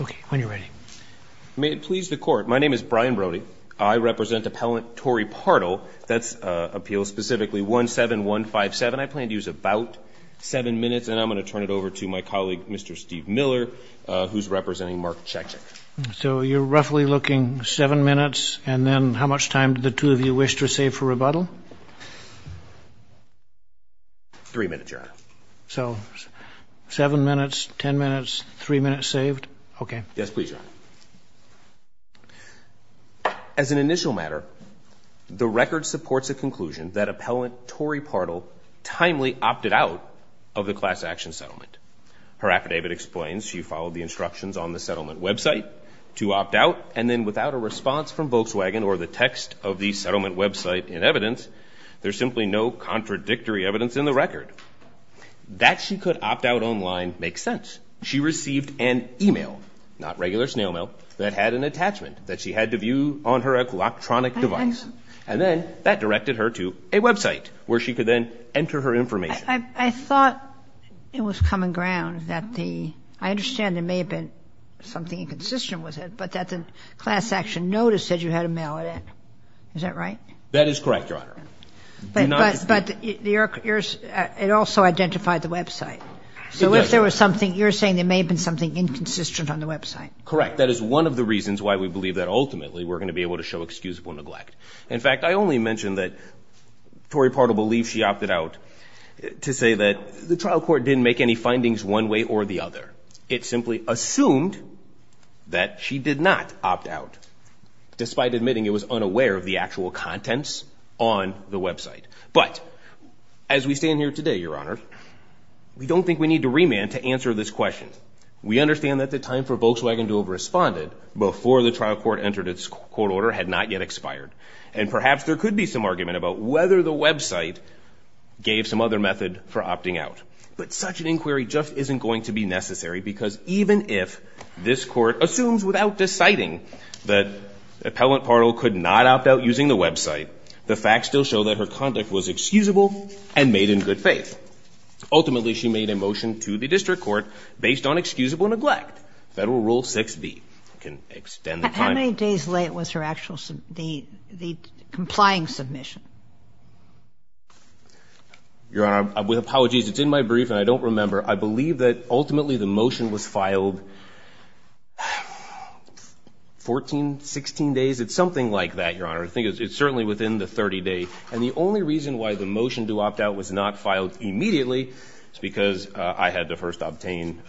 Okay, when you're ready. May it please the court, my name is Brian Brody. I represent Appellant Tory Partle. That's appeal specifically 17157. I plan to use about seven minutes and I'm gonna turn it over to my colleague, Mr. Steve Miller, who's representing Mark Chekchik. So you're roughly looking seven minutes and then how much time did the two of you wish to save for rebuttal? Three minutes, Your Honor. So, seven minutes, 10 minutes, three minutes saved? Okay. Yes, please, Your Honor. As an initial matter, the record supports a conclusion that Appellant Tory Partle timely opted out of the class action settlement. Her affidavit explains she followed the instructions on the settlement website to opt out and then without a response from Volkswagen or the text of the settlement website in evidence, there's simply no contradictory evidence in the record. That she could opt out online makes sense. She received an email, not regular snail mail, that had an attachment that she had to view on her electronic device. And then that directed her to a website where she could then enter her information. I thought it was common ground that the, I understand there may have been something inconsistent with it, but that the class action notice said you had to mail it in. Is that right? That is correct, Your Honor. But it also identified the website. So if there was something, you're saying there may have been something inconsistent on the website. Correct, that is one of the reasons why we believe that ultimately we're gonna be able to show excusable neglect. In fact, I only mentioned that Tory Partle believes she opted out to say that the trial court didn't make any findings one way or the other. It simply assumed that she did not opt out despite admitting it was unaware of the actual contents on the website. But as we stand here today, Your Honor, we don't think we need to remand to answer this question. We understand that the time for Volkswagen to have responded before the trial court entered its court order had not yet expired. And perhaps there could be some argument about whether the website gave some other method for opting out. But such an inquiry just isn't going to be necessary because even if this court assumes without deciding that Appellant Partle could not opt out using the website, the facts still show that her conduct was excusable and made in good faith. Ultimately, she made a motion to the district court based on excusable neglect. Federal Rule 6b can extend the time. How many days late was her actual, the complying submission? Your Honor, with apologies, it's in my brief and I don't remember. I believe that ultimately the motion was filed 14, 16 days. It's something like that, Your Honor. I think it's certainly within the 30-day. And the only reason why the motion to opt out was not filed immediately is because I had to first obtain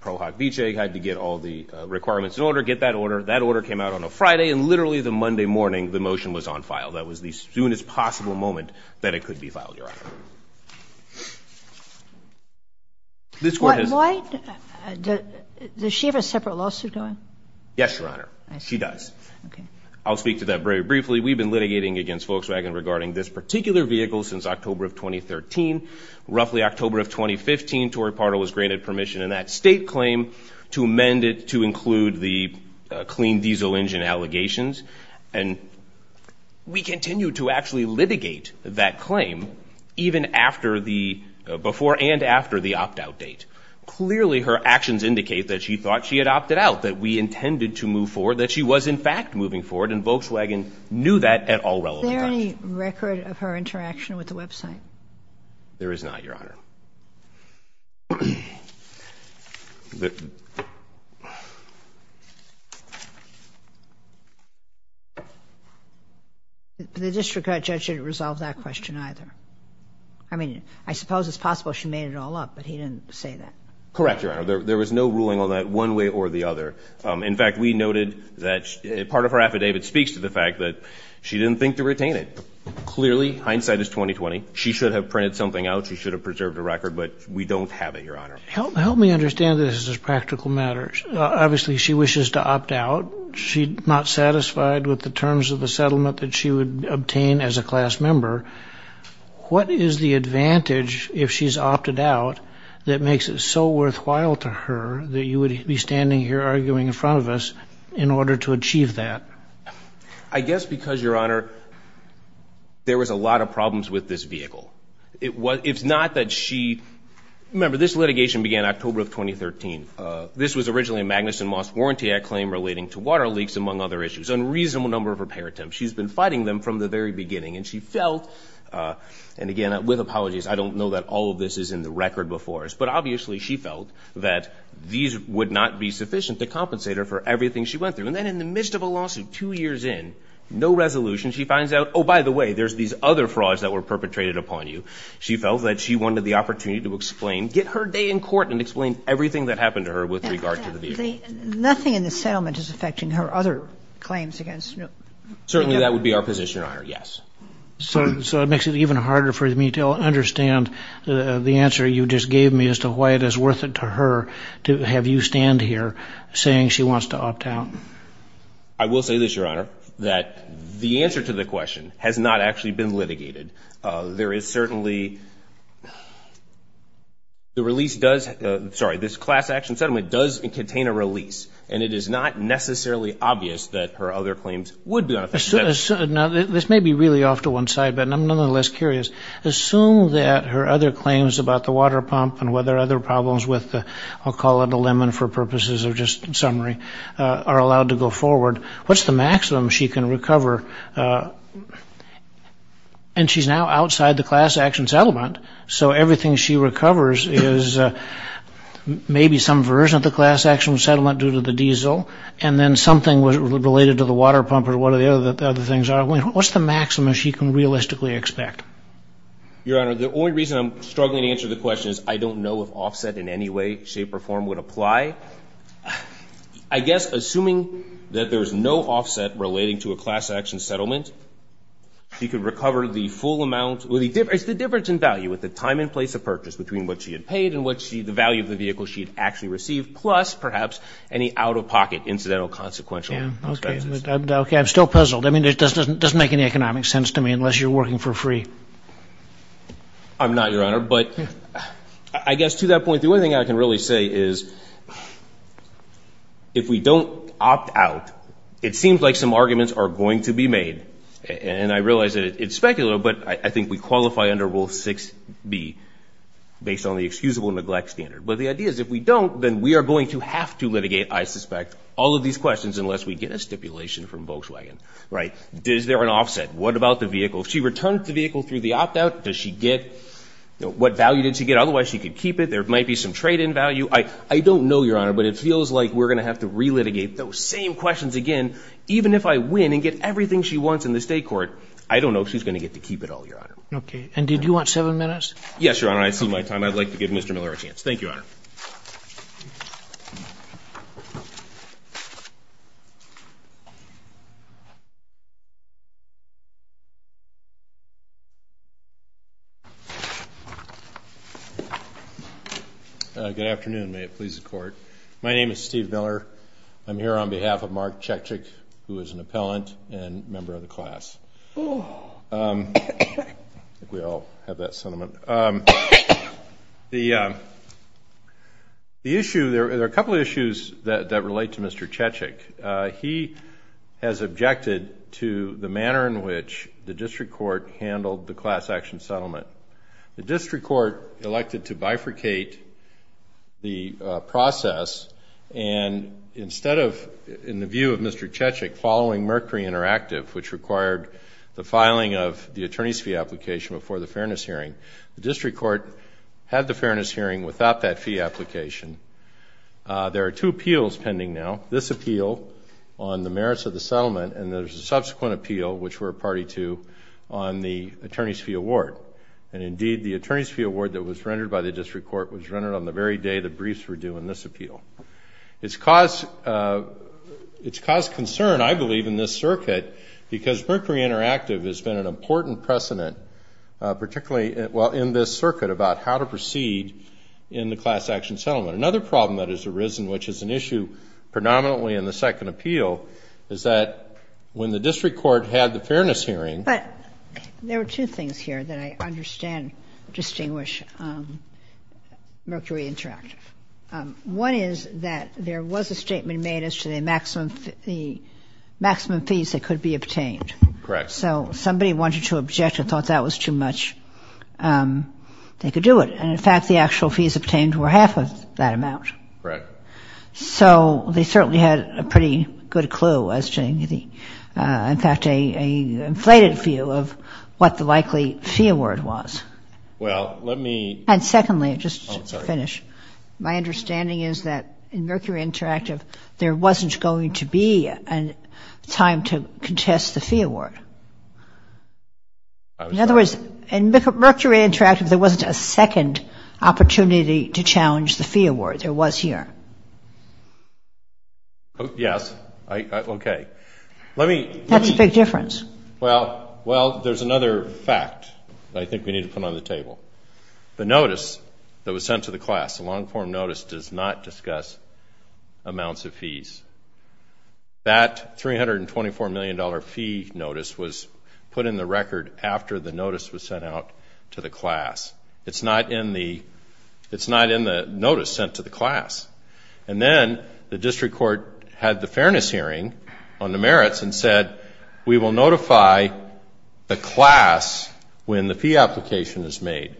Pro Hoc Vice had to get all the requirements in order, get that order. That order came out on a Friday and literally the Monday morning, the motion was on file. That was the soonest possible moment that it could be filed, Your Honor. This court has- What, does she have a separate lawsuit going? Yes, Your Honor, she does. I'll speak to that very briefly. We've been litigating against Volkswagen regarding this particular vehicle since October of 2013. Roughly October of 2015, Tory Pardo was granted permission in that state claim to amend it to include the clean diesel engine allegations. And we continue to actually litigate that claim even after the, before and after the opt-out date. Clearly her actions indicate that she thought she had opted out, that we intended to move forward, that she was in fact moving forward and Volkswagen knew that at all relevant times. Is there any record of her interaction with the website? There is not, Your Honor. The district court judge didn't resolve that question either. I mean, I suppose it's possible she made it all up, but he didn't say that. Correct, Your Honor. There was no ruling on that one way or the other. In fact, we noted that part of her affidavit speaks to the fact that she didn't think to retain it. Clearly hindsight is 20-20. She should have printed something out. She should have preserved a record, but we don't have it, Your Honor. Help me understand this as practical matters. Obviously she wishes to opt out. She's not satisfied with the terms of the settlement that she would obtain as a class member. What is the advantage if she's opted out that makes it so worthwhile to her that you would be standing here arguing in front of us in order to achieve that? I guess because, Your Honor, there was a lot of problems with this vehicle. It's not that she... Remember, this litigation began October of 2013. This was originally a Magnuson Moss Warranty Act claim relating to water leaks, among other issues, unreasonable number of repair attempts. She's been fighting them from the very beginning and she felt, and again, with apologies, I don't know that all of this is in the record, but obviously she felt that these would not be sufficient to compensate her for everything she went through. And then in the midst of a lawsuit, two years in, no resolution, she finds out, oh, by the way, there's these other frauds that were perpetrated upon you. She felt that she wanted the opportunity to explain, get her day in court and explain everything that happened to her with regard to the vehicle. Nothing in the settlement is affecting her other claims against... Certainly that would be our position on her, yes. So it makes it even harder for me to understand the answer you just gave me as to why it is worth it to her to have you stand here saying she wants to opt out. I will say this, Your Honor, that the answer to the question has not actually been litigated. There is certainly... The release does, sorry, this class action settlement does contain a release and it is not necessarily obvious that her other claims would be on effect. Now, this may be really off to one side, but I'm nonetheless curious. Assume that her other claims about the water pump and whether other problems with the, I'll call it a lemon for purposes of just summary, are allowed to go forward. What's the maximum she can recover? And she's now outside the class action settlement, so everything she recovers is maybe some version of the class action settlement due to the diesel and then something related to the water pump or whatever the other things are. What's the maximum she can realistically expect? Your Honor, the only reason I'm struggling to answer the question is I don't know if offset in any way, shape, or form would apply. I guess, assuming that there's no offset relating to a class action settlement, she could recover the full amount, well, it's the difference in value with the time and place of purchase between what she had paid and what she, the value of the vehicle she had actually received, plus, perhaps, any out-of-pocket incidental consequential expenses. Yeah, okay, I'm still puzzled. I mean, it doesn't make any economic sense to me unless you're working for free. I'm not, Your Honor, but I guess, to that point, the only thing I can really say is, if we don't opt out, it seems like some arguments are going to be made, and I realize that it's specular, but I think we qualify under Rule 6b, based on the excusable neglect standard. But the idea is, if we don't, then we are going to have to litigate, I suspect, all of these questions unless we get a stipulation from Volkswagen, right? Is there an offset? What about the vehicle? If she returns the vehicle through the opt-out, does she get, what value did she get? Otherwise, she could keep it. There might be some trade-in value. I don't know, Your Honor, but it feels like we're going to have to re-litigate those same questions again, even if I win and get everything she wants in the state court. I don't know if she's going to get to keep it all, Your Honor. Okay, and did you want seven minutes? I'd like to give Mr. Miller a chance. Thank you, Your Honor. Good afternoon. May it please the court. My name is Steve Miller. I'm here on behalf of Mark Chechik, who is an appellant and member of the class. Ooh. Um, I think we all have that sentiment. Um, the issue, there are a couple of issues that relate to Mr. Chechik. He has objected to the manner in which the district court has been able to handle the class action settlement. The district court elected to bifurcate the process, and instead of, in the view of Mr. Chechik, following Mercury Interactive, which required the filing of the attorney's fee application before the fairness hearing, the district court had the fairness hearing without that fee application. There are two appeals pending now. This appeal on the merits of the settlement, and there's a subsequent appeal, which we're a party to, on the attorney's fee award. And indeed, the attorney's fee award that was rendered by the district court was rendered on the very day the briefs were due in this appeal. It's caused concern, I believe, in this circuit, because Mercury Interactive has been an important precedent, particularly in this circuit, about how to proceed in the class action settlement. Another problem that has arisen, which is an issue predominantly in the second appeal, is that when the district court had the fairness hearing- But there were two things here that I understand distinguish Mercury Interactive. One is that there was a statement made as to the maximum fees that could be obtained. Correct. So somebody wanted to object and thought that was too much, they could do it. And in fact, the actual fees obtained were half of that amount. Correct. So they certainly had a pretty good clue, as to the, in fact, a inflated view of what the likely fee award was. Well, let me- And secondly, just to finish, my understanding is that in Mercury Interactive, there wasn't going to be a time to contest the fee award. I'm sorry. In other words, in Mercury Interactive, there wasn't a second opportunity to challenge the fee award, there was here. Yes, okay. Let me- That's a big difference. Well, there's another fact that I think we need to put on the table. The notice that was sent to the class, the long-form notice does not discuss amounts of fees. That $324 million fee notice was put in the record after the notice was sent out to the class. It's not in the notice sent to the class. And then the district court had the fairness hearing on the merits and said, we will notify the class when the fee application is made.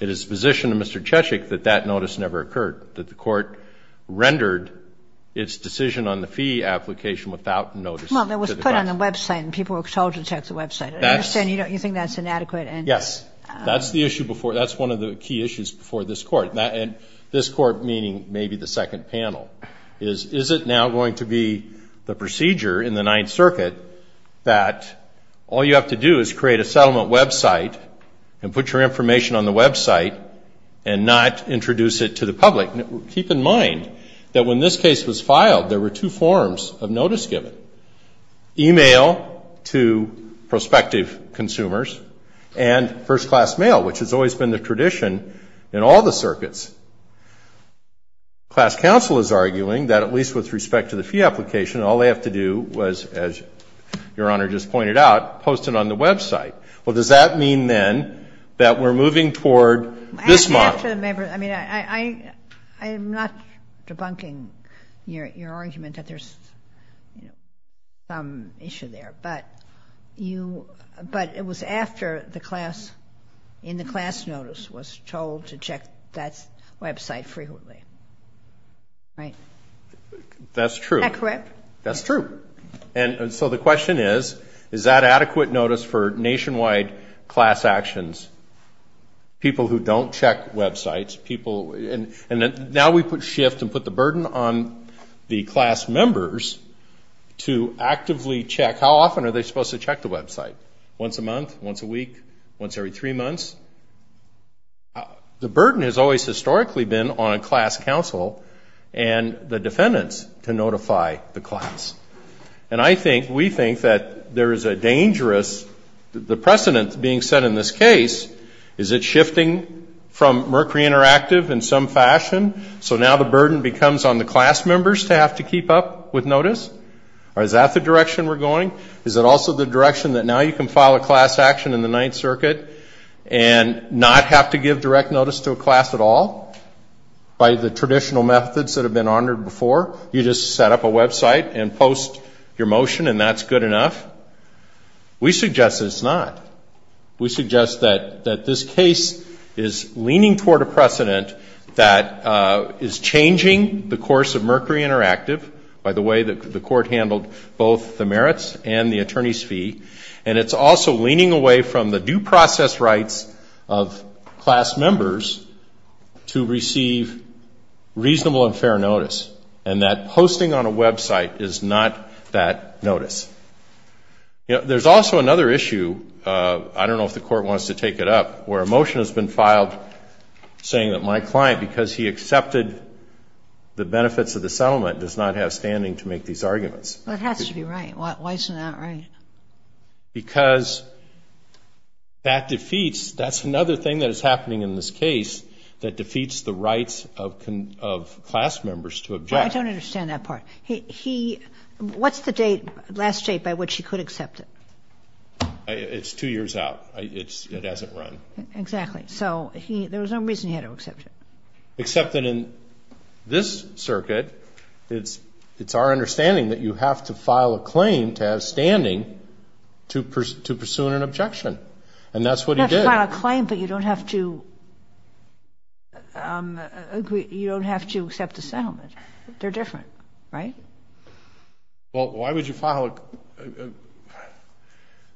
It is position to Mr. Chechik that that notice never occurred that the court rendered its decision on the fee application without notice. Well, it was put on the website and people were told to check the website. I understand you think that's inadequate and- That's one of the key issues for this court. And this court, meaning maybe the second panel, is, is it now going to be the procedure in the Ninth Circuit that all you have to do is create a settlement website and put your information on the website and not introduce it to the public? Keep in mind that when this case was filed, there were two forms of notice given, email to prospective consumers and first-class mail, which has always been the tradition in all the circuits. Class counsel is arguing that, at least with respect to the fee application, all they have to do was, as Your Honor just pointed out, post it on the website. Well, does that mean then that we're moving toward this model? I mean, I'm not debunking your argument that there's some issue there, but you, but it was after the class, in the class notice was told to check that website frequently, right? That's true. Is that correct? That's true. And so the question is, is that adequate notice for nationwide class actions? People who don't check websites, people, and now we put shift and put the burden on the class members to actively check, how often are they supposed to check the website? Once a month, once a week, once every three months. The burden has always historically been on a class counsel and the defendants to notify the class. And I think, we think that there is a dangerous, the precedent being set in this case, is it shifting from Mercury Interactive in some fashion? So now the burden becomes on the class members to have to keep up with notice? Or is that the direction we're going? Is it also the direction that now you can file a class action in the Ninth Circuit and not have to give direct notice to a class at all by the traditional methods that have been honored before? You just set up a website and post your motion and that's good enough? We suggest it's not. We suggest that this case is leaning toward a precedent that is changing the course of Mercury Interactive by the way that the court handled both the merits and the attorney's fee. And it's also leaning away from the due process rights of class members to receive reasonable and fair notice. And that posting on a website is not that notice. There's also another issue, I don't know if the court wants to take it up, where a motion has been filed saying that my client, because he accepted the benefits of the settlement, does not have standing to make these arguments. That has to be right. Why isn't that right? Because that defeats, that's another thing that is happening in this case that defeats the rights of class members to object. I don't understand that part. What's the last date by which he could accept it? It's two years out. It hasn't run. Exactly. There was no reason he had to accept it. Except that in this circuit, it's our understanding that you have to file a claim to have standing to pursue an objection. And that's what he did. You don't have to file a claim, but you don't have to accept a settlement. They're different, right? Well, why would you file,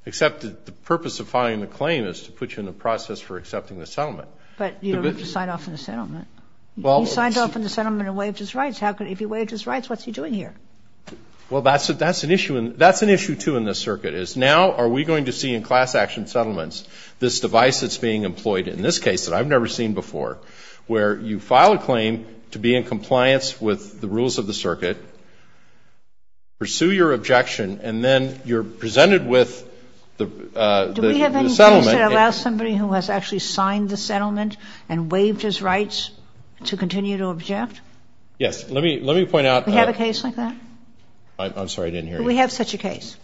except that the purpose of filing the claim is to put you in the process for accepting the settlement. But you don't have to sign off on the settlement. You signed off on the settlement and waived his rights. If he waived his rights, what's he doing here? Well, that's an issue, too, in this circuit, is now are we going to see in class action settlements this device that's being employed in this case that I've never seen before, where you file a claim to be in compliance pursue your objection, and then you're presented with the settlement. Do we have any case that allows somebody who has actually signed the settlement and waived his rights to continue to object? Yes, let me point out. Do we have a case like that? I'm sorry, I didn't hear you. Do we have such a case?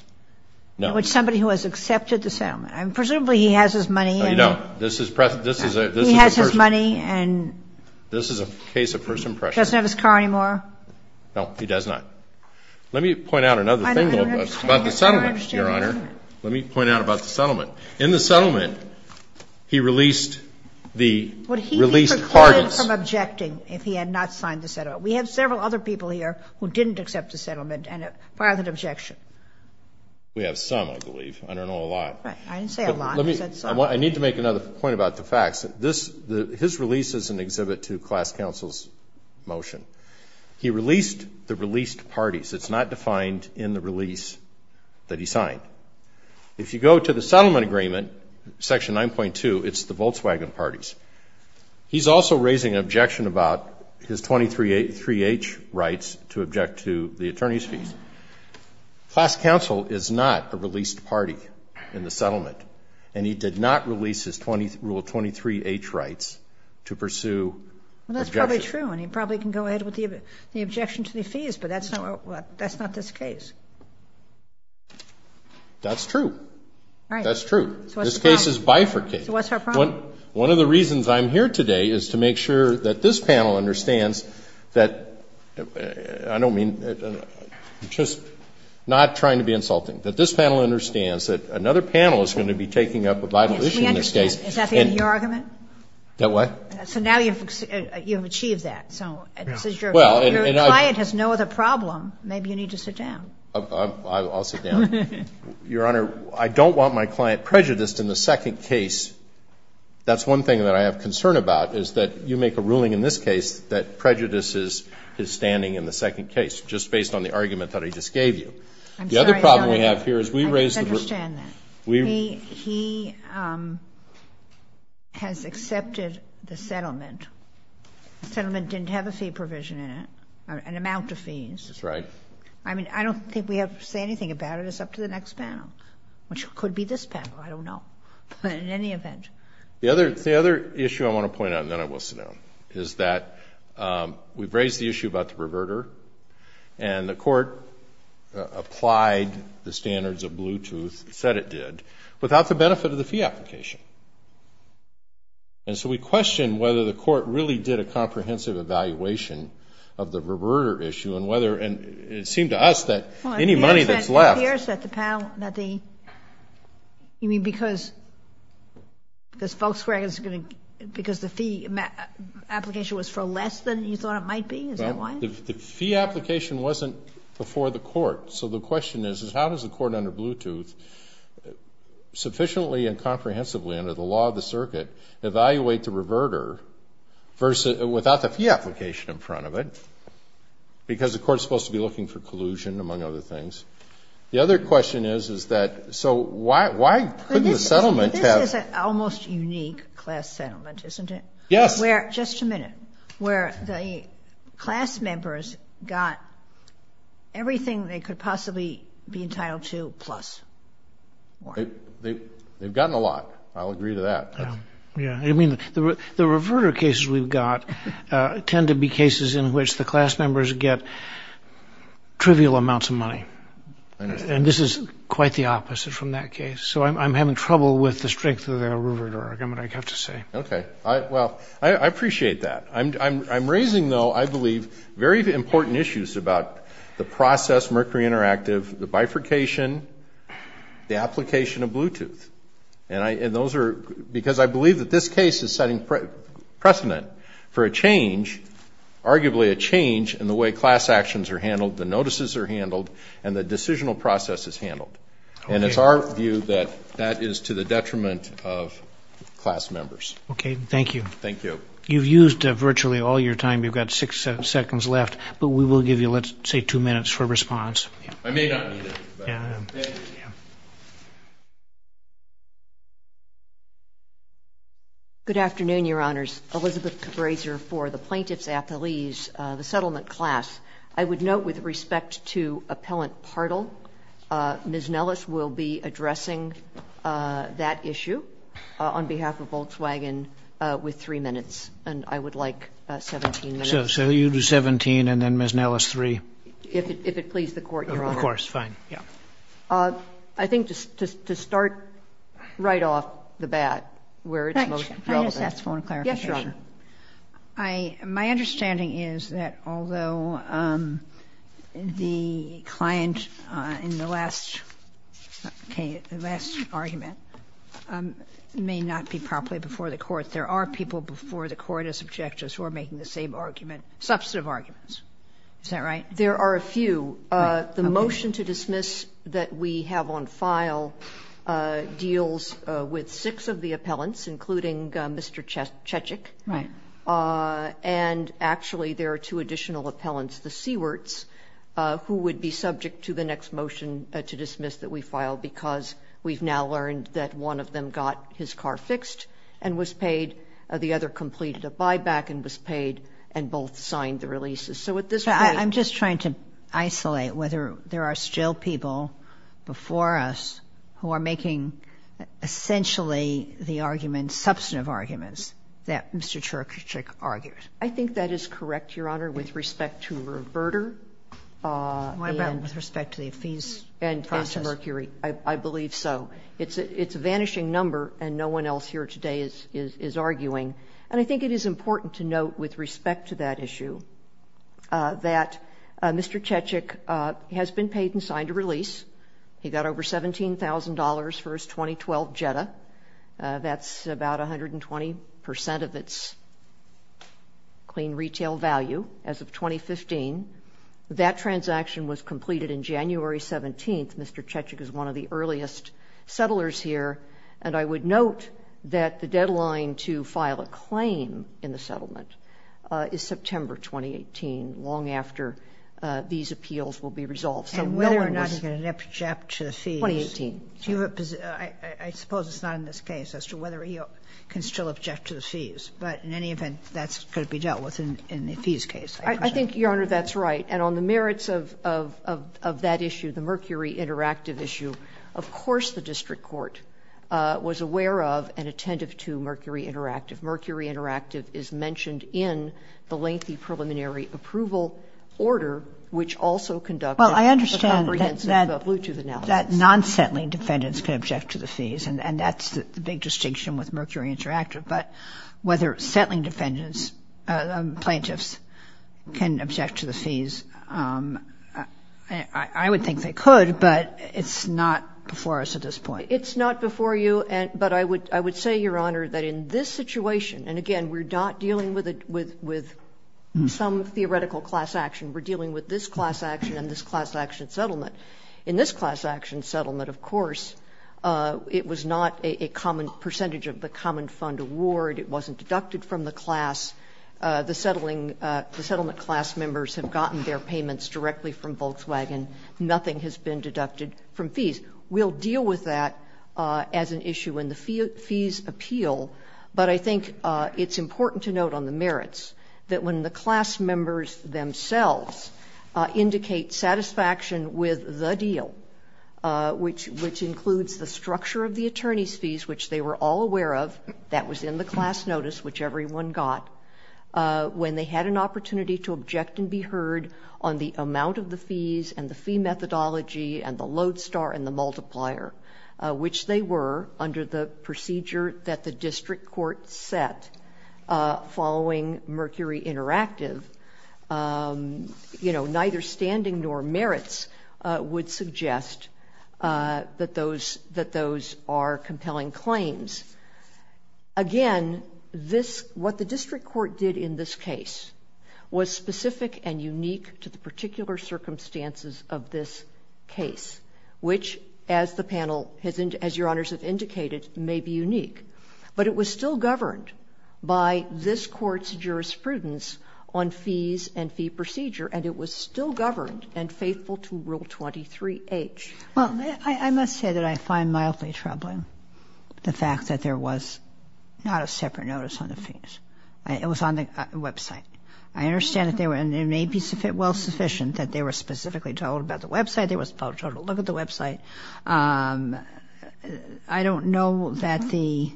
No. With somebody who has accepted the settlement. Presumably, he has his money. No, this is a person. He has his money, and. This is a case of person pressure. Doesn't have his car anymore. No, he does not. Let me point out another thing, though, about the settlement, Your Honor. Let me point out about the settlement. In the settlement, he released the released parties. Would he be precluded from objecting if he had not signed the settlement? We have several other people here who didn't accept the settlement, and filed an objection. We have some, I believe. I don't know a lot. Right, I didn't say a lot, I said some. I need to make another point about the facts. His release is an exhibit to class counsel's motion. He released the released parties. It's not defined in the release that he signed. If you go to the settlement agreement, section 9.2, it's the Volkswagen parties. He's also raising an objection about his 23H rights to object to the attorney's fees. Class counsel is not a released party in the settlement, and he did not release his Rule 23H rights to pursue objection. Well, that's probably true, and he probably can go ahead with the objection to the fees, but that's not this case. That's true. Right. That's true. So what's the problem? This case is bifurcated. So what's our problem? One of the reasons I'm here today is to make sure that this panel understands that, I don't mean, I'm just not trying to be insulting, that this panel understands that another panel is going to be taking up a vital issue in this case. Yes, we understand. Is that the end of your argument? That what? So now you've achieved that, and so your client has no other problem. Maybe you need to sit down. I'll sit down. Your Honor, I don't want my client prejudiced in the second case. That's one thing that I have concern about, is that you make a ruling in this case that prejudices his standing in the second case, just based on the argument that I just gave you. I'm sorry, Your Honor. I just understand that. He has accepted the settlement. The settlement didn't have a fee provision in it, an amount of fees. That's right. I mean, I don't think we have to say anything about it. It's up to the next panel, which could be this panel. I don't know, but in any event. The other issue I want to point out, and then I will sit down, is that we've raised the issue about the perverter, and the court applied the standards of Bluetooth, said it did, without the benefit of the fee application. And so we question whether the court really did a comprehensive evaluation of the perverter issue, and whether, and it seemed to us that any money that's left. It appears that the panel, that the, you mean because Volkswagen's going to, because the fee application was for less than you thought it might be? Is that why? So the question is, is how does the court, under Bluetooth, sufficiently and comprehensively, under the law of the circuit, evaluate the perverter without the fee application in front of it? Because the court's supposed to be looking for collusion, among other things. The other question is, is that, so why couldn't the settlement have? This is an almost unique class settlement, isn't it? Yes. Where, just a minute, where the class members got everything they could possibly be entitled to, plus. They've gotten a lot. I'll agree to that. Yeah, I mean, the reverter cases we've got tend to be cases in which the class members get trivial amounts of money. And this is quite the opposite from that case. So I'm having trouble with the strength of the reverter argument, I have to say. Okay, well, I appreciate that. I'm raising, though, I believe, very important issues about the process, Mercury Interactive, the bifurcation, the application of Bluetooth. And those are, because I believe that this case is setting precedent for a change, arguably a change in the way class actions are handled, the notices are handled, and the decisional process is handled. And it's our view that that is to the detriment of class members. Okay, thank you. Thank you. You've used virtually all your time. You've got six seconds left, but we will give you, let's say, two minutes for response. I may not need it. Yeah, yeah. Good afternoon, Your Honors. Elizabeth Cabraser for the Plaintiff's Appease, the settlement class. I would note, with respect to Appellant Partle, Ms. Nellis will be addressing that issue on behalf of Volkswagen with three minutes, and I would like 17 minutes. So you do 17, and then Ms. Nellis, three. If it pleases the Court, Your Honor. Of course, fine, yeah. I think to start right off the bat, where it's most relevant. Can I just ask for a clarification? Yes, Your Honor. My understanding is that although the client in the last case, the last argument, may not be properly before the Court, there are people before the Court as objectors who are making the same argument, substantive arguments. Is that right? There are a few. The motion to dismiss that we have on file deals with six of the appellants, including Mr. Chechik. Right. And actually, there are two additional appellants, the Seewerts, who would be subject to the next motion to dismiss that we file because we've now learned that one of them got his car fixed and was paid, the other completed a buyback and was paid, and both signed the releases. So at this point- I'm just trying to isolate whether there are still people before us who are making, essentially, the argument, substantive arguments, that Mr. Chechik argued. I think that is correct, Your Honor, with respect to Roberta, and with respect to the fees process. And to Mercury, I believe so. It's a vanishing number, and no one else here today is arguing. And I think it is important to note, with respect to that issue, that Mr. Chechik has been paid and signed a release. He got over $17,000 for his 2012 Jetta. That's about 120% of its clean retail value, as of 2015. That transaction was completed in January 17th. Mr. Chechik is one of the earliest settlers here. And I would note that the deadline to file a claim in the settlement is September 2018, long after these appeals will be resolved. So knowing this- And whether or not he can object to the fees- 2018. Do you have a, I suppose it's not in this case as to whether he can still object to the fees. But in any event, that's gonna be dealt with in the fees case. I think, Your Honor, that's right. And on the merits of that issue, the Mercury Interactive issue, of course the district court was aware of and attentive to Mercury Interactive. Mercury Interactive is mentioned in the lengthy preliminary approval order, which also conducted- Well, I understand that non-settling defendants can object to the fees. And that's the big distinction with Mercury Interactive. But whether settling defendants, plaintiffs, can object to the fees, I would think they could, but it's not before us at this point. It's not before you, but I would say, Your Honor, that in this situation, and again, we're not dealing with some theoretical class action. We're dealing with this class action and this class action settlement. In this class action settlement, of course, it was not a common percentage of the common fund award. It wasn't deducted from the class. The settling, the settlement class members have gotten their payments directly from Volkswagen. Nothing has been deducted from fees. We'll deal with that as an issue in the fees appeal. But I think it's important to note on the merits that when the class members themselves indicate satisfaction with the deal, which includes the structure of the attorney's fees, which they were all aware of, that was in the class notice, which everyone got, when they had an opportunity to object and be heard on the amount of the fees and the fee methodology and the load star and the multiplier, which they were under the procedure that the district court set following Mercury Interactive, neither standing nor merits would suggest that those are compelling claims. Again, what the district court did in this case was specific and unique to the particular circumstances of this case, which as the panel, as your honors have indicated, may be unique. But it was still governed by this court's jurisprudence on fees and fee procedure, and it was still governed and faithful to Rule 23H. Well, I must say that I find mildly troubling the fact that there was not a separate notice on the fees. It was on the website. I understand that there were, and it may be well sufficient that they were specifically told about the website. They were told to look at the website. I don't know that the,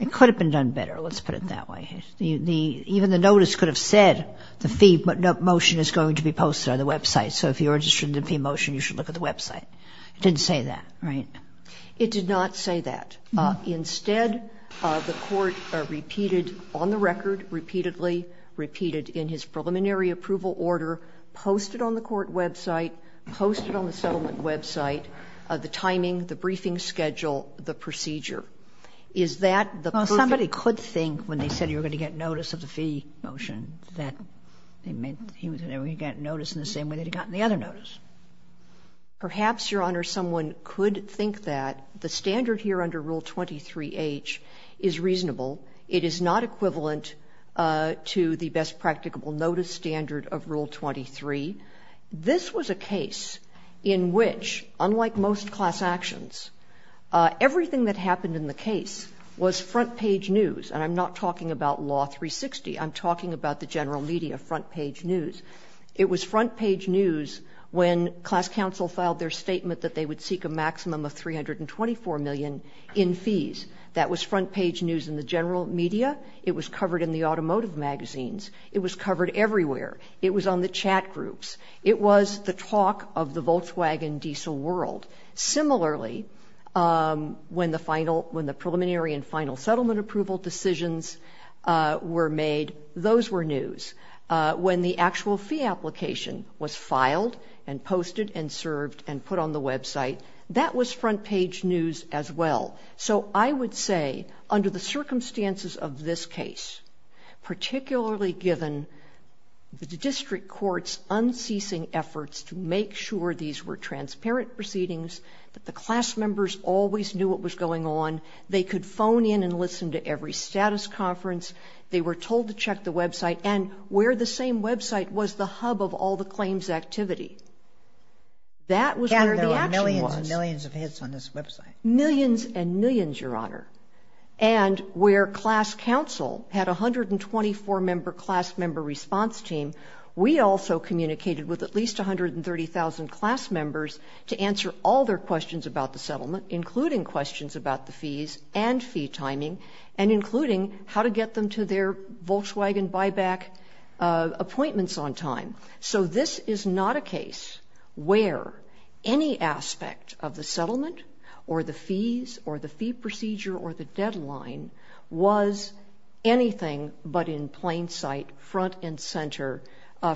it could have been done better. Let's put it that way. Even the notice could have said the fee motion is going to be posted on the website. So if you're interested in the fee motion, you should look at the website. It didn't say that, right? It did not say that. Instead, the court repeated on the record, repeatedly repeated in his preliminary approval order, posted on the court website, posted on the settlement website, the timing, the briefing schedule, the procedure. Is that the perfect? Well, somebody could think when they said you were going to get notice of the fee motion that they meant he was going to get notice in the same way they'd gotten the other notice. Perhaps, Your Honor, someone could think that the standard here under Rule 23H is reasonable. It is not equivalent to the best practicable notice standard of Rule 23. This was a case in which, unlike most class actions, everything that happened in the case was front page news. And I'm not talking about Law 360. I'm talking about the general media front page news. It was front page news when class counsel filed their statement that they would seek a maximum of $324 million in fees. That was front page news in the general media. It was covered in the automotive magazines. It was covered everywhere. It was on the chat groups. It was the talk of the Volkswagen diesel world. Similarly, when the preliminary and final settlement approval decisions were made, those were news. When the actual fee application was filed and posted and served and put on the website, that was front page news as well. So I would say, under the circumstances of this case, particularly given the district court's unceasing efforts to make sure these were transparent proceedings, that the class members always knew what was going on, they could phone in and listen to every status conference, they were told to check the website, and where the same website was the hub of all the claims activity. That was where the action was. And there were millions and millions of hits on this website. Millions and millions, Your Honor. And where class counsel had 124-member class member response team, we also communicated with at least 130,000 class members to answer all their questions about the settlement, including questions about the fees and fee timing, and including how to get them to their Volkswagen buyback appointments on time. So this is not a case where any aspect of the settlement or the fees or the fee procedure or the deadline was anything but in plain sight, front and center,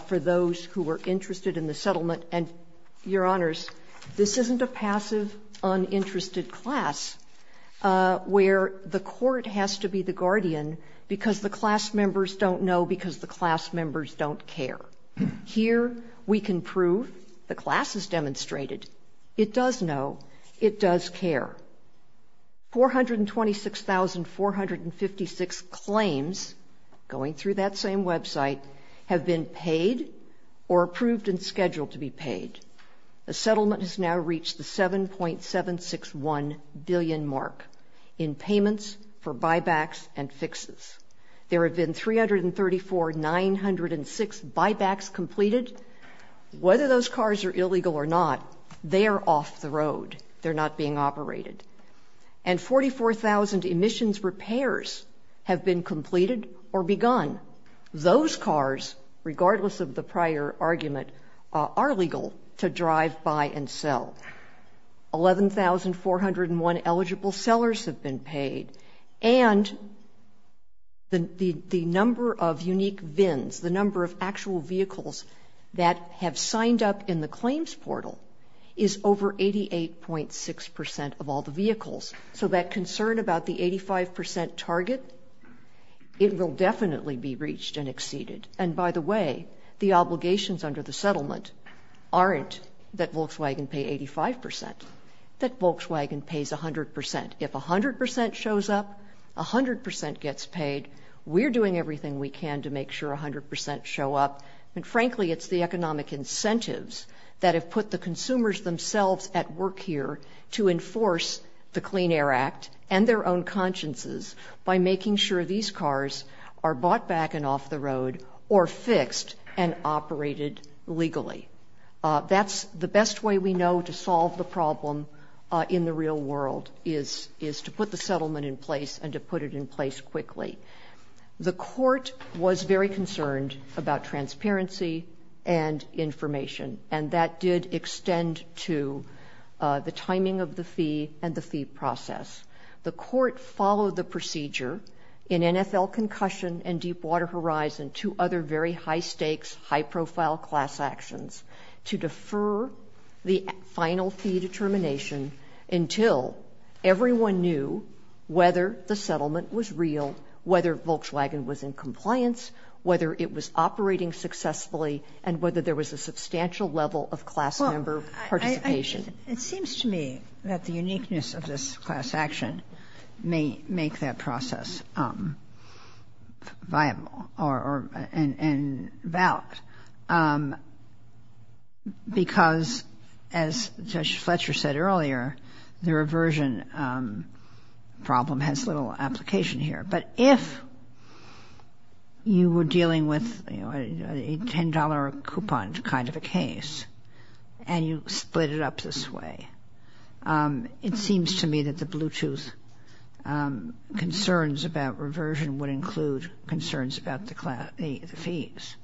for those who were interested in the settlement. And Your Honors, this isn't a passive uninterested class where the court has to be the guardian because the class members don't know because the class members don't care. Here we can prove, the class has demonstrated, it does know, it does care. 426,456 claims, going through that same website, have been paid or approved and scheduled to be paid. The settlement has now reached the 7.761 billion mark in payments for buybacks and fixes. There have been 334,906 buybacks completed. Whether those cars are illegal or not, they are off the road, they're not being operated. And 44,000 emissions repairs have been completed or begun. Those cars, regardless of the prior argument, are legal to drive, buy, and sell. 11,401 eligible sellers have been paid. And the number of unique VINs, the number of actual vehicles that have signed up in the claims portal is over 88.6% of all the vehicles. So that concern about the 85% target, it will definitely be reached and exceeded. And by the way, the obligations under the settlement aren't that Volkswagen pay 85%, that Volkswagen pays 100%. If 100% shows up, 100% gets paid, we're doing everything we can to make sure 100% show up. And frankly, it's the economic incentives that have put the consumers themselves at work here to enforce the Clean Air Act and their own consciences by making sure these cars are bought back and off the road or fixed and operated legally. That's the best way we know to solve the problem in the real world is to put the settlement in place and to put it in place quickly. The court was very concerned about transparency and information. And that did extend to the timing of the fee and the fee process. The court followed the procedure in NFL concussion and Deepwater Horizon, two other very high stakes, high profile class actions to defer the final fee determination until everyone knew whether the settlement was real, whether Volkswagen was in compliance, whether it was operating successfully and whether there was a substantial level of class member participation. It seems to me that the uniqueness of this class action may make that process viable and valid because as Judge Fletcher said earlier, the reversion problem has little application here. But if you were dealing with a $10 coupon kind of a case and you split it up this way, it seems to me that the Bluetooth concerns about reversion would include concerns about the fees.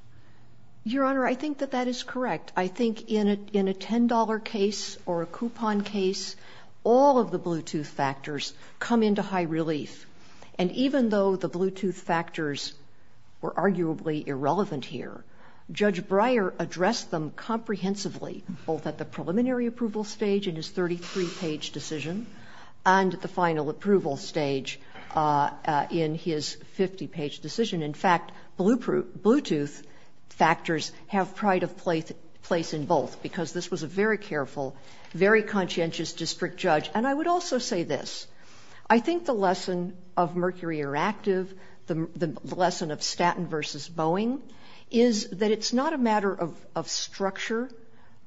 Your Honor, I think that that is correct. I think in a $10 case or a coupon case, all of the Bluetooth factors come into high relief. And even though the Bluetooth factors were arguably irrelevant here, Judge Breyer addressed them comprehensively, both at the preliminary approval stage in his 33-page decision and at the final approval stage in his 50-page decision. In fact, Bluetooth factors have pride of place in both because this was a very careful, very conscientious district judge. And I would also say this. I think the lesson of Mercury Eractive, the lesson of Staten versus Boeing is that it's not a matter of structure,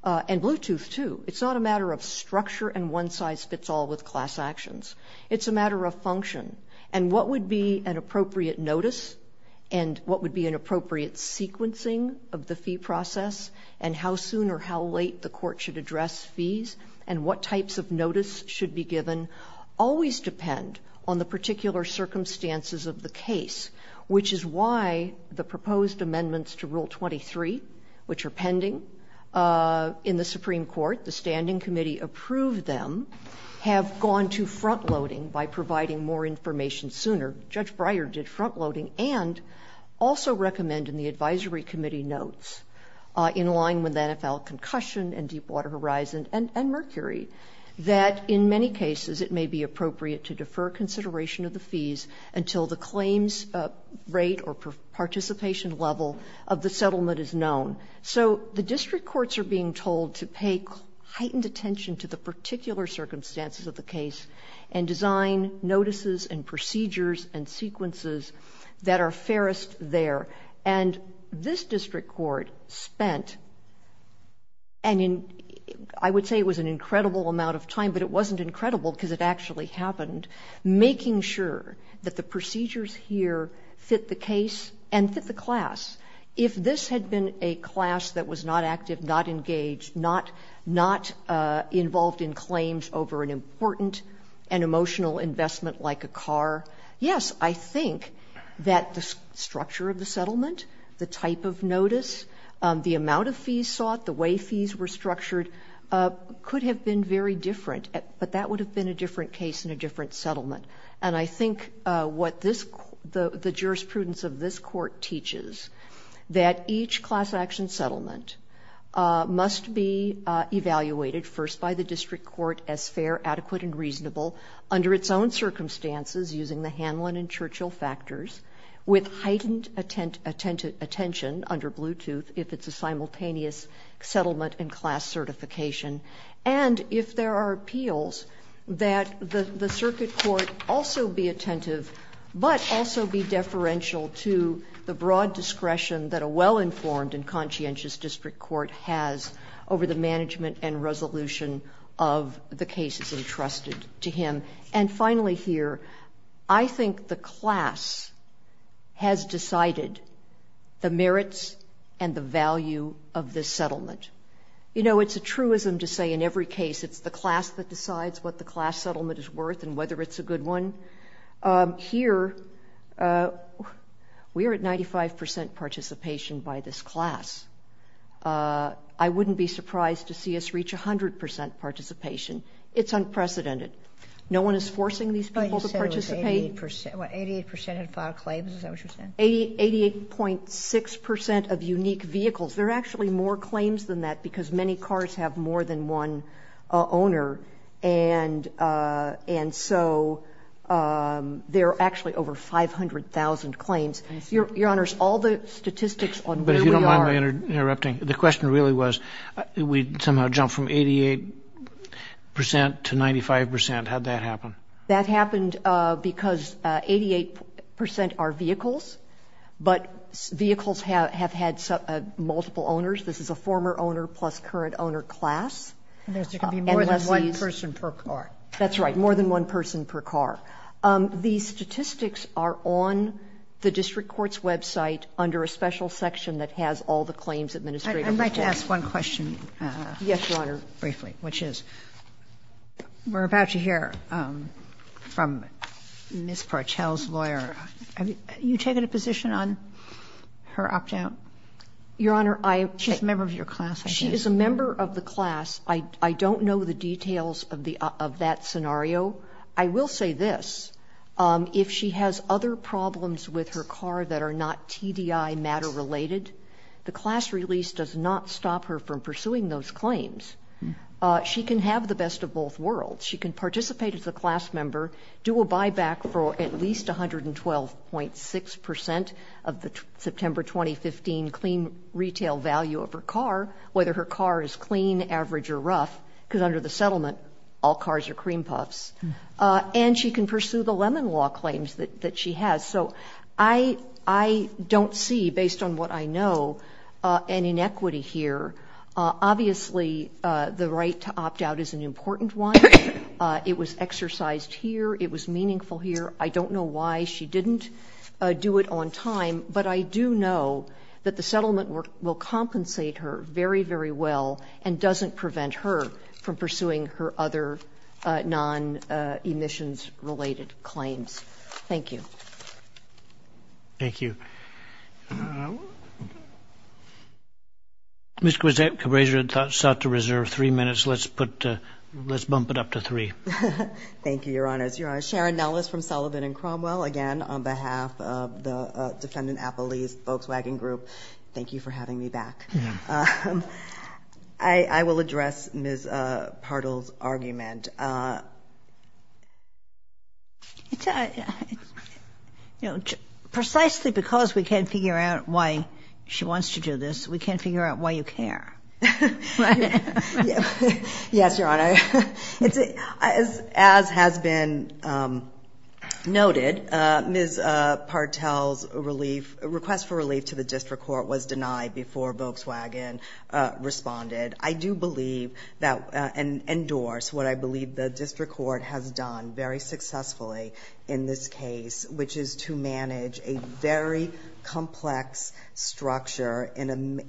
and Bluetooth too, it's not a matter of structure and one size fits all with class actions. It's a matter of function. And what would be an appropriate notice and what would be an appropriate sequencing of the fee process and how soon or how late the court should address fees and what types of notice should be given always depend on the particular circumstances of the case, which is why the proposed amendments to Rule 23, which are pending in the Supreme Court, the standing committee approved them, have gone to front-loading by providing more information sooner. Judge Breyer did front-loading and also recommend in the advisory committee notes in line with NFL concussion and Deepwater Horizon and Mercury that in many cases it may be appropriate to defer consideration of the fees until the claims rate or participation level of the settlement is known. So the district courts are being told to pay heightened attention to the particular circumstances of the case and design notices and procedures and sequences that are fairest there. And this district court spent, and I would say it was an incredible amount of time, but it wasn't incredible because it actually happened, making sure that the procedures here fit the case and fit the class. If this had been a class that was not active, not engaged, not involved in claims over an important and emotional investment like a car, yes, I think that the structure of the settlement, the type of notice, the amount of fees sought, the way fees were structured could have been very different, but that would have been a different case and a different settlement. And I think what the jurisprudence of this court teaches that each class action settlement must be evaluated first by the district court as fair, adequate, and reasonable under its own circumstances using the Hanlon and Churchill factors with heightened attention under Bluetooth if it's a simultaneous settlement and class certification. And if there are appeals, that the circuit court also be attentive, but also be deferential to the broad discretion that a well-informed and conscientious district court has over the management and resolution of the cases entrusted to him. And finally here, I think the class has decided the merits and the value of this settlement. You know, it's a truism to say in every case, it's the class that decides what the class settlement is worth and whether it's a good one. Here, we are at 95% participation by this class. I wouldn't be surprised to see us reach 100% participation. It's unprecedented. No one is forcing these people to participate. 88% have filed claims, is that what you're saying? 88.6% of unique vehicles. There are actually more claims than that because many cars have more than one owner. And so there are actually over 500,000 claims. Your honors, all the statistics on where we are- But if you don't mind my interrupting, the question really was, we somehow jumped from 88% to 95%. How'd that happen? That happened because 88% are vehicles, but vehicles have had multiple owners. This is a former owner plus current owner class. And there's going to be more than one person per car. That's right, more than one person per car. These statistics are on the district court's website under a special section that has all the claims administrative reports. I'd like to ask one question. Yes, your honor. Briefly, which is, we're about to hear from Ms. Partell's lawyer. You taking a position on her opt-out? Your honor, I- She's a member of your class, I think. She is a member of the class. I don't know the details of that scenario. I will say this. If she has other problems with her car that are not TDI matter related, the class release does not stop her from pursuing those claims. She can have the best of both worlds. She can participate as a class member, do a buyback for at least 112.6% of the September 2015 clean retail value of her car, whether her car is clean, average, or rough, because under the settlement, all cars are cream puffs. And she can pursue the Lemon Law claims that she has. So I don't see, based on what I know, an inequity here. Obviously, the right to opt out is an important one. It was exercised here. It was meaningful here. I don't know why she didn't do it on time, but I do know that the settlement work will compensate her very, very well and doesn't prevent her from pursuing her other non-emissions related claims. Thank you. Thank you. Ms. Cabreja sought to reserve three minutes. Let's bump it up to three. Thank you, Your Honors. Sharon Nellis from Sullivan and Cromwell, again, on behalf of the defendant, Apple Lee's Volkswagen Group, thank you for having me back. I will address Ms. Partle's argument. Precisely because we can't figure out why she wants to do this, we can't figure out why you care. Yes, Your Honor. As has been noted, Ms. Partle's request for relief to the district court was denied before Volkswagen responded. I do believe, and endorse, what I believe the district court has done very successfully in this case, which is to manage a very complex structure in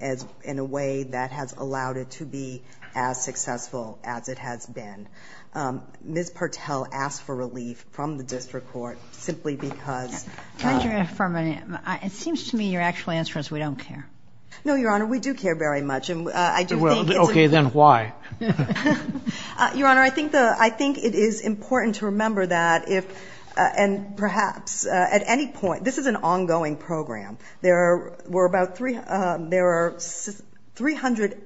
a way that has allowed it to be as successful as it has been. Ms. Partle asked for relief from the district court simply because. Can I just reaffirm, it seems to me your actual answer is we don't care. No, Your Honor, we do care very much. And I do think it's a- Okay, then why? Your Honor, I think it is important to remember that if, and perhaps at any point, this is an ongoing program. There were about 300,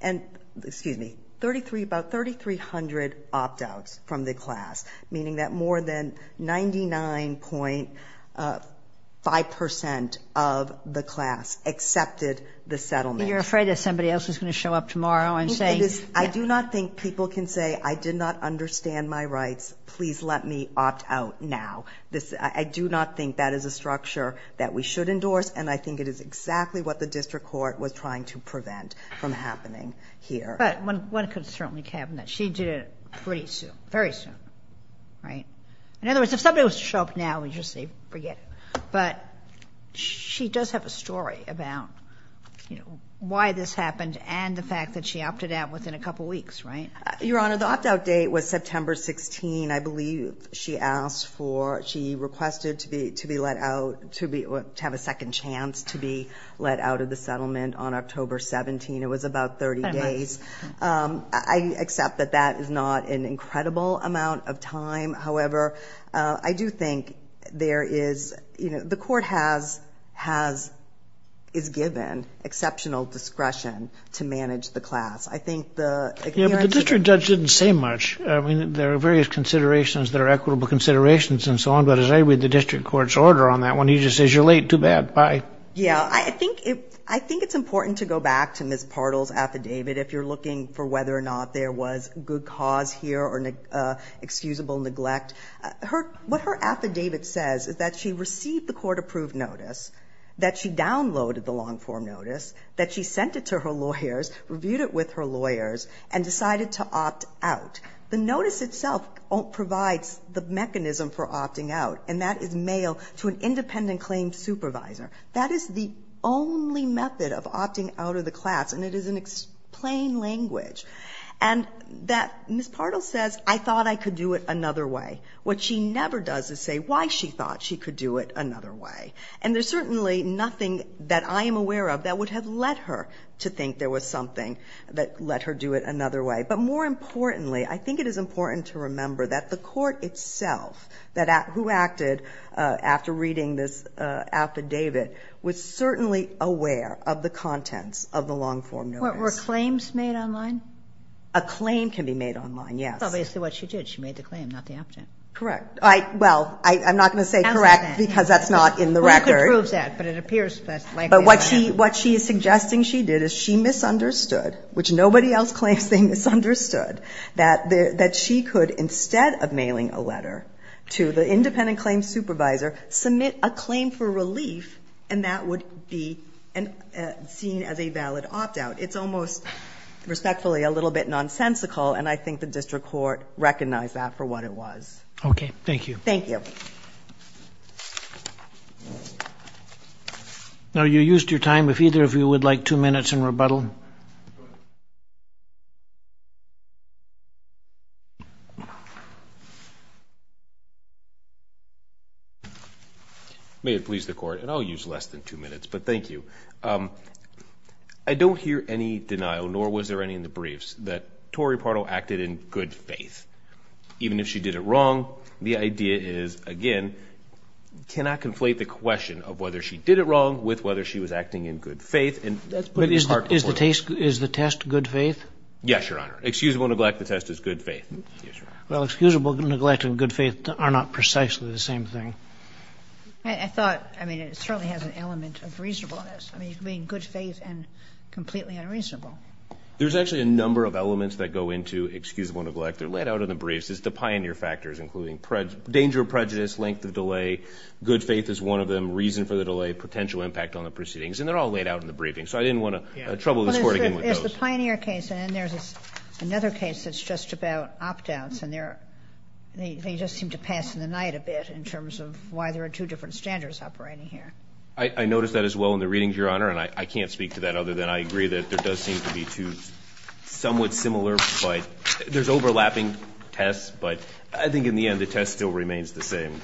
and excuse me, 33, about 3,300 opt-outs from the class, meaning that more than 99.5% of the class accepted the settlement. You're afraid that somebody else is gonna show up tomorrow and say. I do not think people can say, I did not understand my rights, please let me opt out now. I do not think that is a structure that we should endorse. And I think it is exactly what the district court was trying to prevent from happening here. But one could certainly cabinet. She did it pretty soon, very soon, right? In other words, if somebody was to show up now, we just say forget it. But she does have a story about why this happened and the fact that she opted out within a couple of weeks, right? Your Honor, the opt-out date was September 16. I believe she asked for, she requested to have a second chance to be let out of the settlement on October 17. It was about 30 days. I accept that that is not an incredible amount of time. However, I do think there is, the court has, is given exceptional discretion to manage the class. I think the- Yeah, but the district judge didn't say much. I mean, there are various considerations that are equitable considerations and so on, but as I read the district court's order on that one, he just says, you're late, too bad, bye. Yeah, I think it's important to go back to Ms. Partle's affidavit, if you're looking for whether or not there was good cause here or excusable neglect. What her affidavit says is that she received the court-approved notice, that she downloaded the long-form notice, that she sent it to her lawyers, reviewed it with her lawyers, and decided to opt out. The notice itself provides the mechanism for opting out, and that is mail to an independent claim supervisor. That is the only method of opting out of the class, and it is in plain language. And that, Ms. Partle says, I thought I could do it another way. What she never does is say why she thought she could do it another way. And there's certainly nothing that I am aware of that would have led her to think there was something that let her do it another way. But more importantly, I think it is important to remember that the court itself, who acted after reading this affidavit, was certainly aware of the contents of the long-form notice. Were claims made online? A claim can be made online, yes. That's obviously what she did. She made the claim, not the object. Correct. Well, I'm not gonna say correct because that's not in the record. Well, you could prove that, but it appears that's likely a lie. But what she is suggesting she did is she misunderstood, which nobody else claims they misunderstood, that she could, instead of mailing a letter to the independent claims supervisor, submit a claim for relief, and that would be seen as a valid opt-out. It's almost, respectfully, a little bit nonsensical, and I think the district court recognized that for what it was. Okay, thank you. Thank you. Now, you used your time. If either of you would like two minutes in rebuttal. May it please the court, and I'll use less than two minutes, but thank you. I don't hear any denial, nor was there any in the briefs, that Tori Pardo acted in good faith, even if she did it wrong. The idea is, again, cannot conflate the question of whether she did it wrong with whether she was acting in good faith, and that's part of the point. Is the test good faith? Yes, Your Honor. Excusable neglect, the test is good faith. Well, excusable neglect and good faith are not precisely the same thing. I thought, I mean, it certainly has an element of reasonableness. I mean, you can be in good faith and completely unreasonable. There's actually a number of elements that go into excusable neglect. They're laid out in the briefs. It's the pioneer factors, including danger of prejudice, length of delay. Good faith is one of them. Reason for the delay, potential impact on the proceedings, and they're all laid out in the briefing, so I didn't want to trouble this Court again with those. Well, there's the pioneer case, and then there's another case that's just about opt-outs, and they just seem to pass in the night a bit in terms of why there are two different standards operating here. I noticed that as well in the readings, Your Honor, and I can't speak to that other than I agree that there does seem to be two somewhat similar, but there's overlapping tests, but I think in the end, the test still remains the same.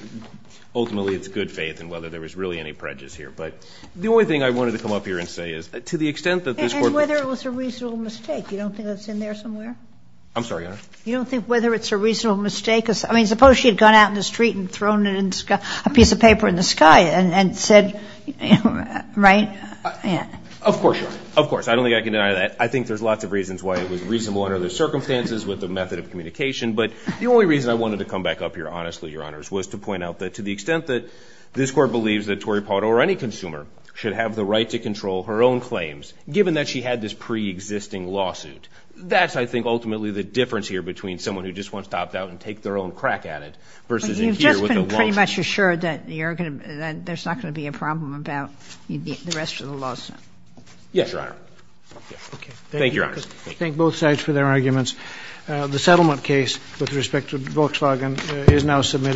Ultimately, it's good faith, and whether there was really any prejudice here, but the only thing I wanted to come up here and say is, to the extent that this Court was- And whether it was a reasonable mistake. You don't think that's in there somewhere? I'm sorry, Your Honor? You don't think whether it's a reasonable mistake? I mean, suppose she had gone out in the street and thrown a piece of paper in the sky, and said, right? Of course, Your Honor, of course. I don't think I can deny that. I think there's lots of reasons why it was reasonable under the circumstances with the method of communication, but the only reason I wanted to come back up here, honestly, Your Honors, was to point out that to the extent that this Court believes that Tory Pardo, or any consumer, should have the right to control her own claims, given that she had this pre-existing lawsuit, that's, I think, ultimately the difference here between someone who just wants to opt out and take their own crack at it, versus in here with a long- But you've just been pretty much assured that there's not going to be a problem about the rest of the lawsuit. Yes, Your Honor. Okay. Thank you, Your Honors. Thank both sides for their arguments. The settlement case, with respect to Volkswagen, is now submitted.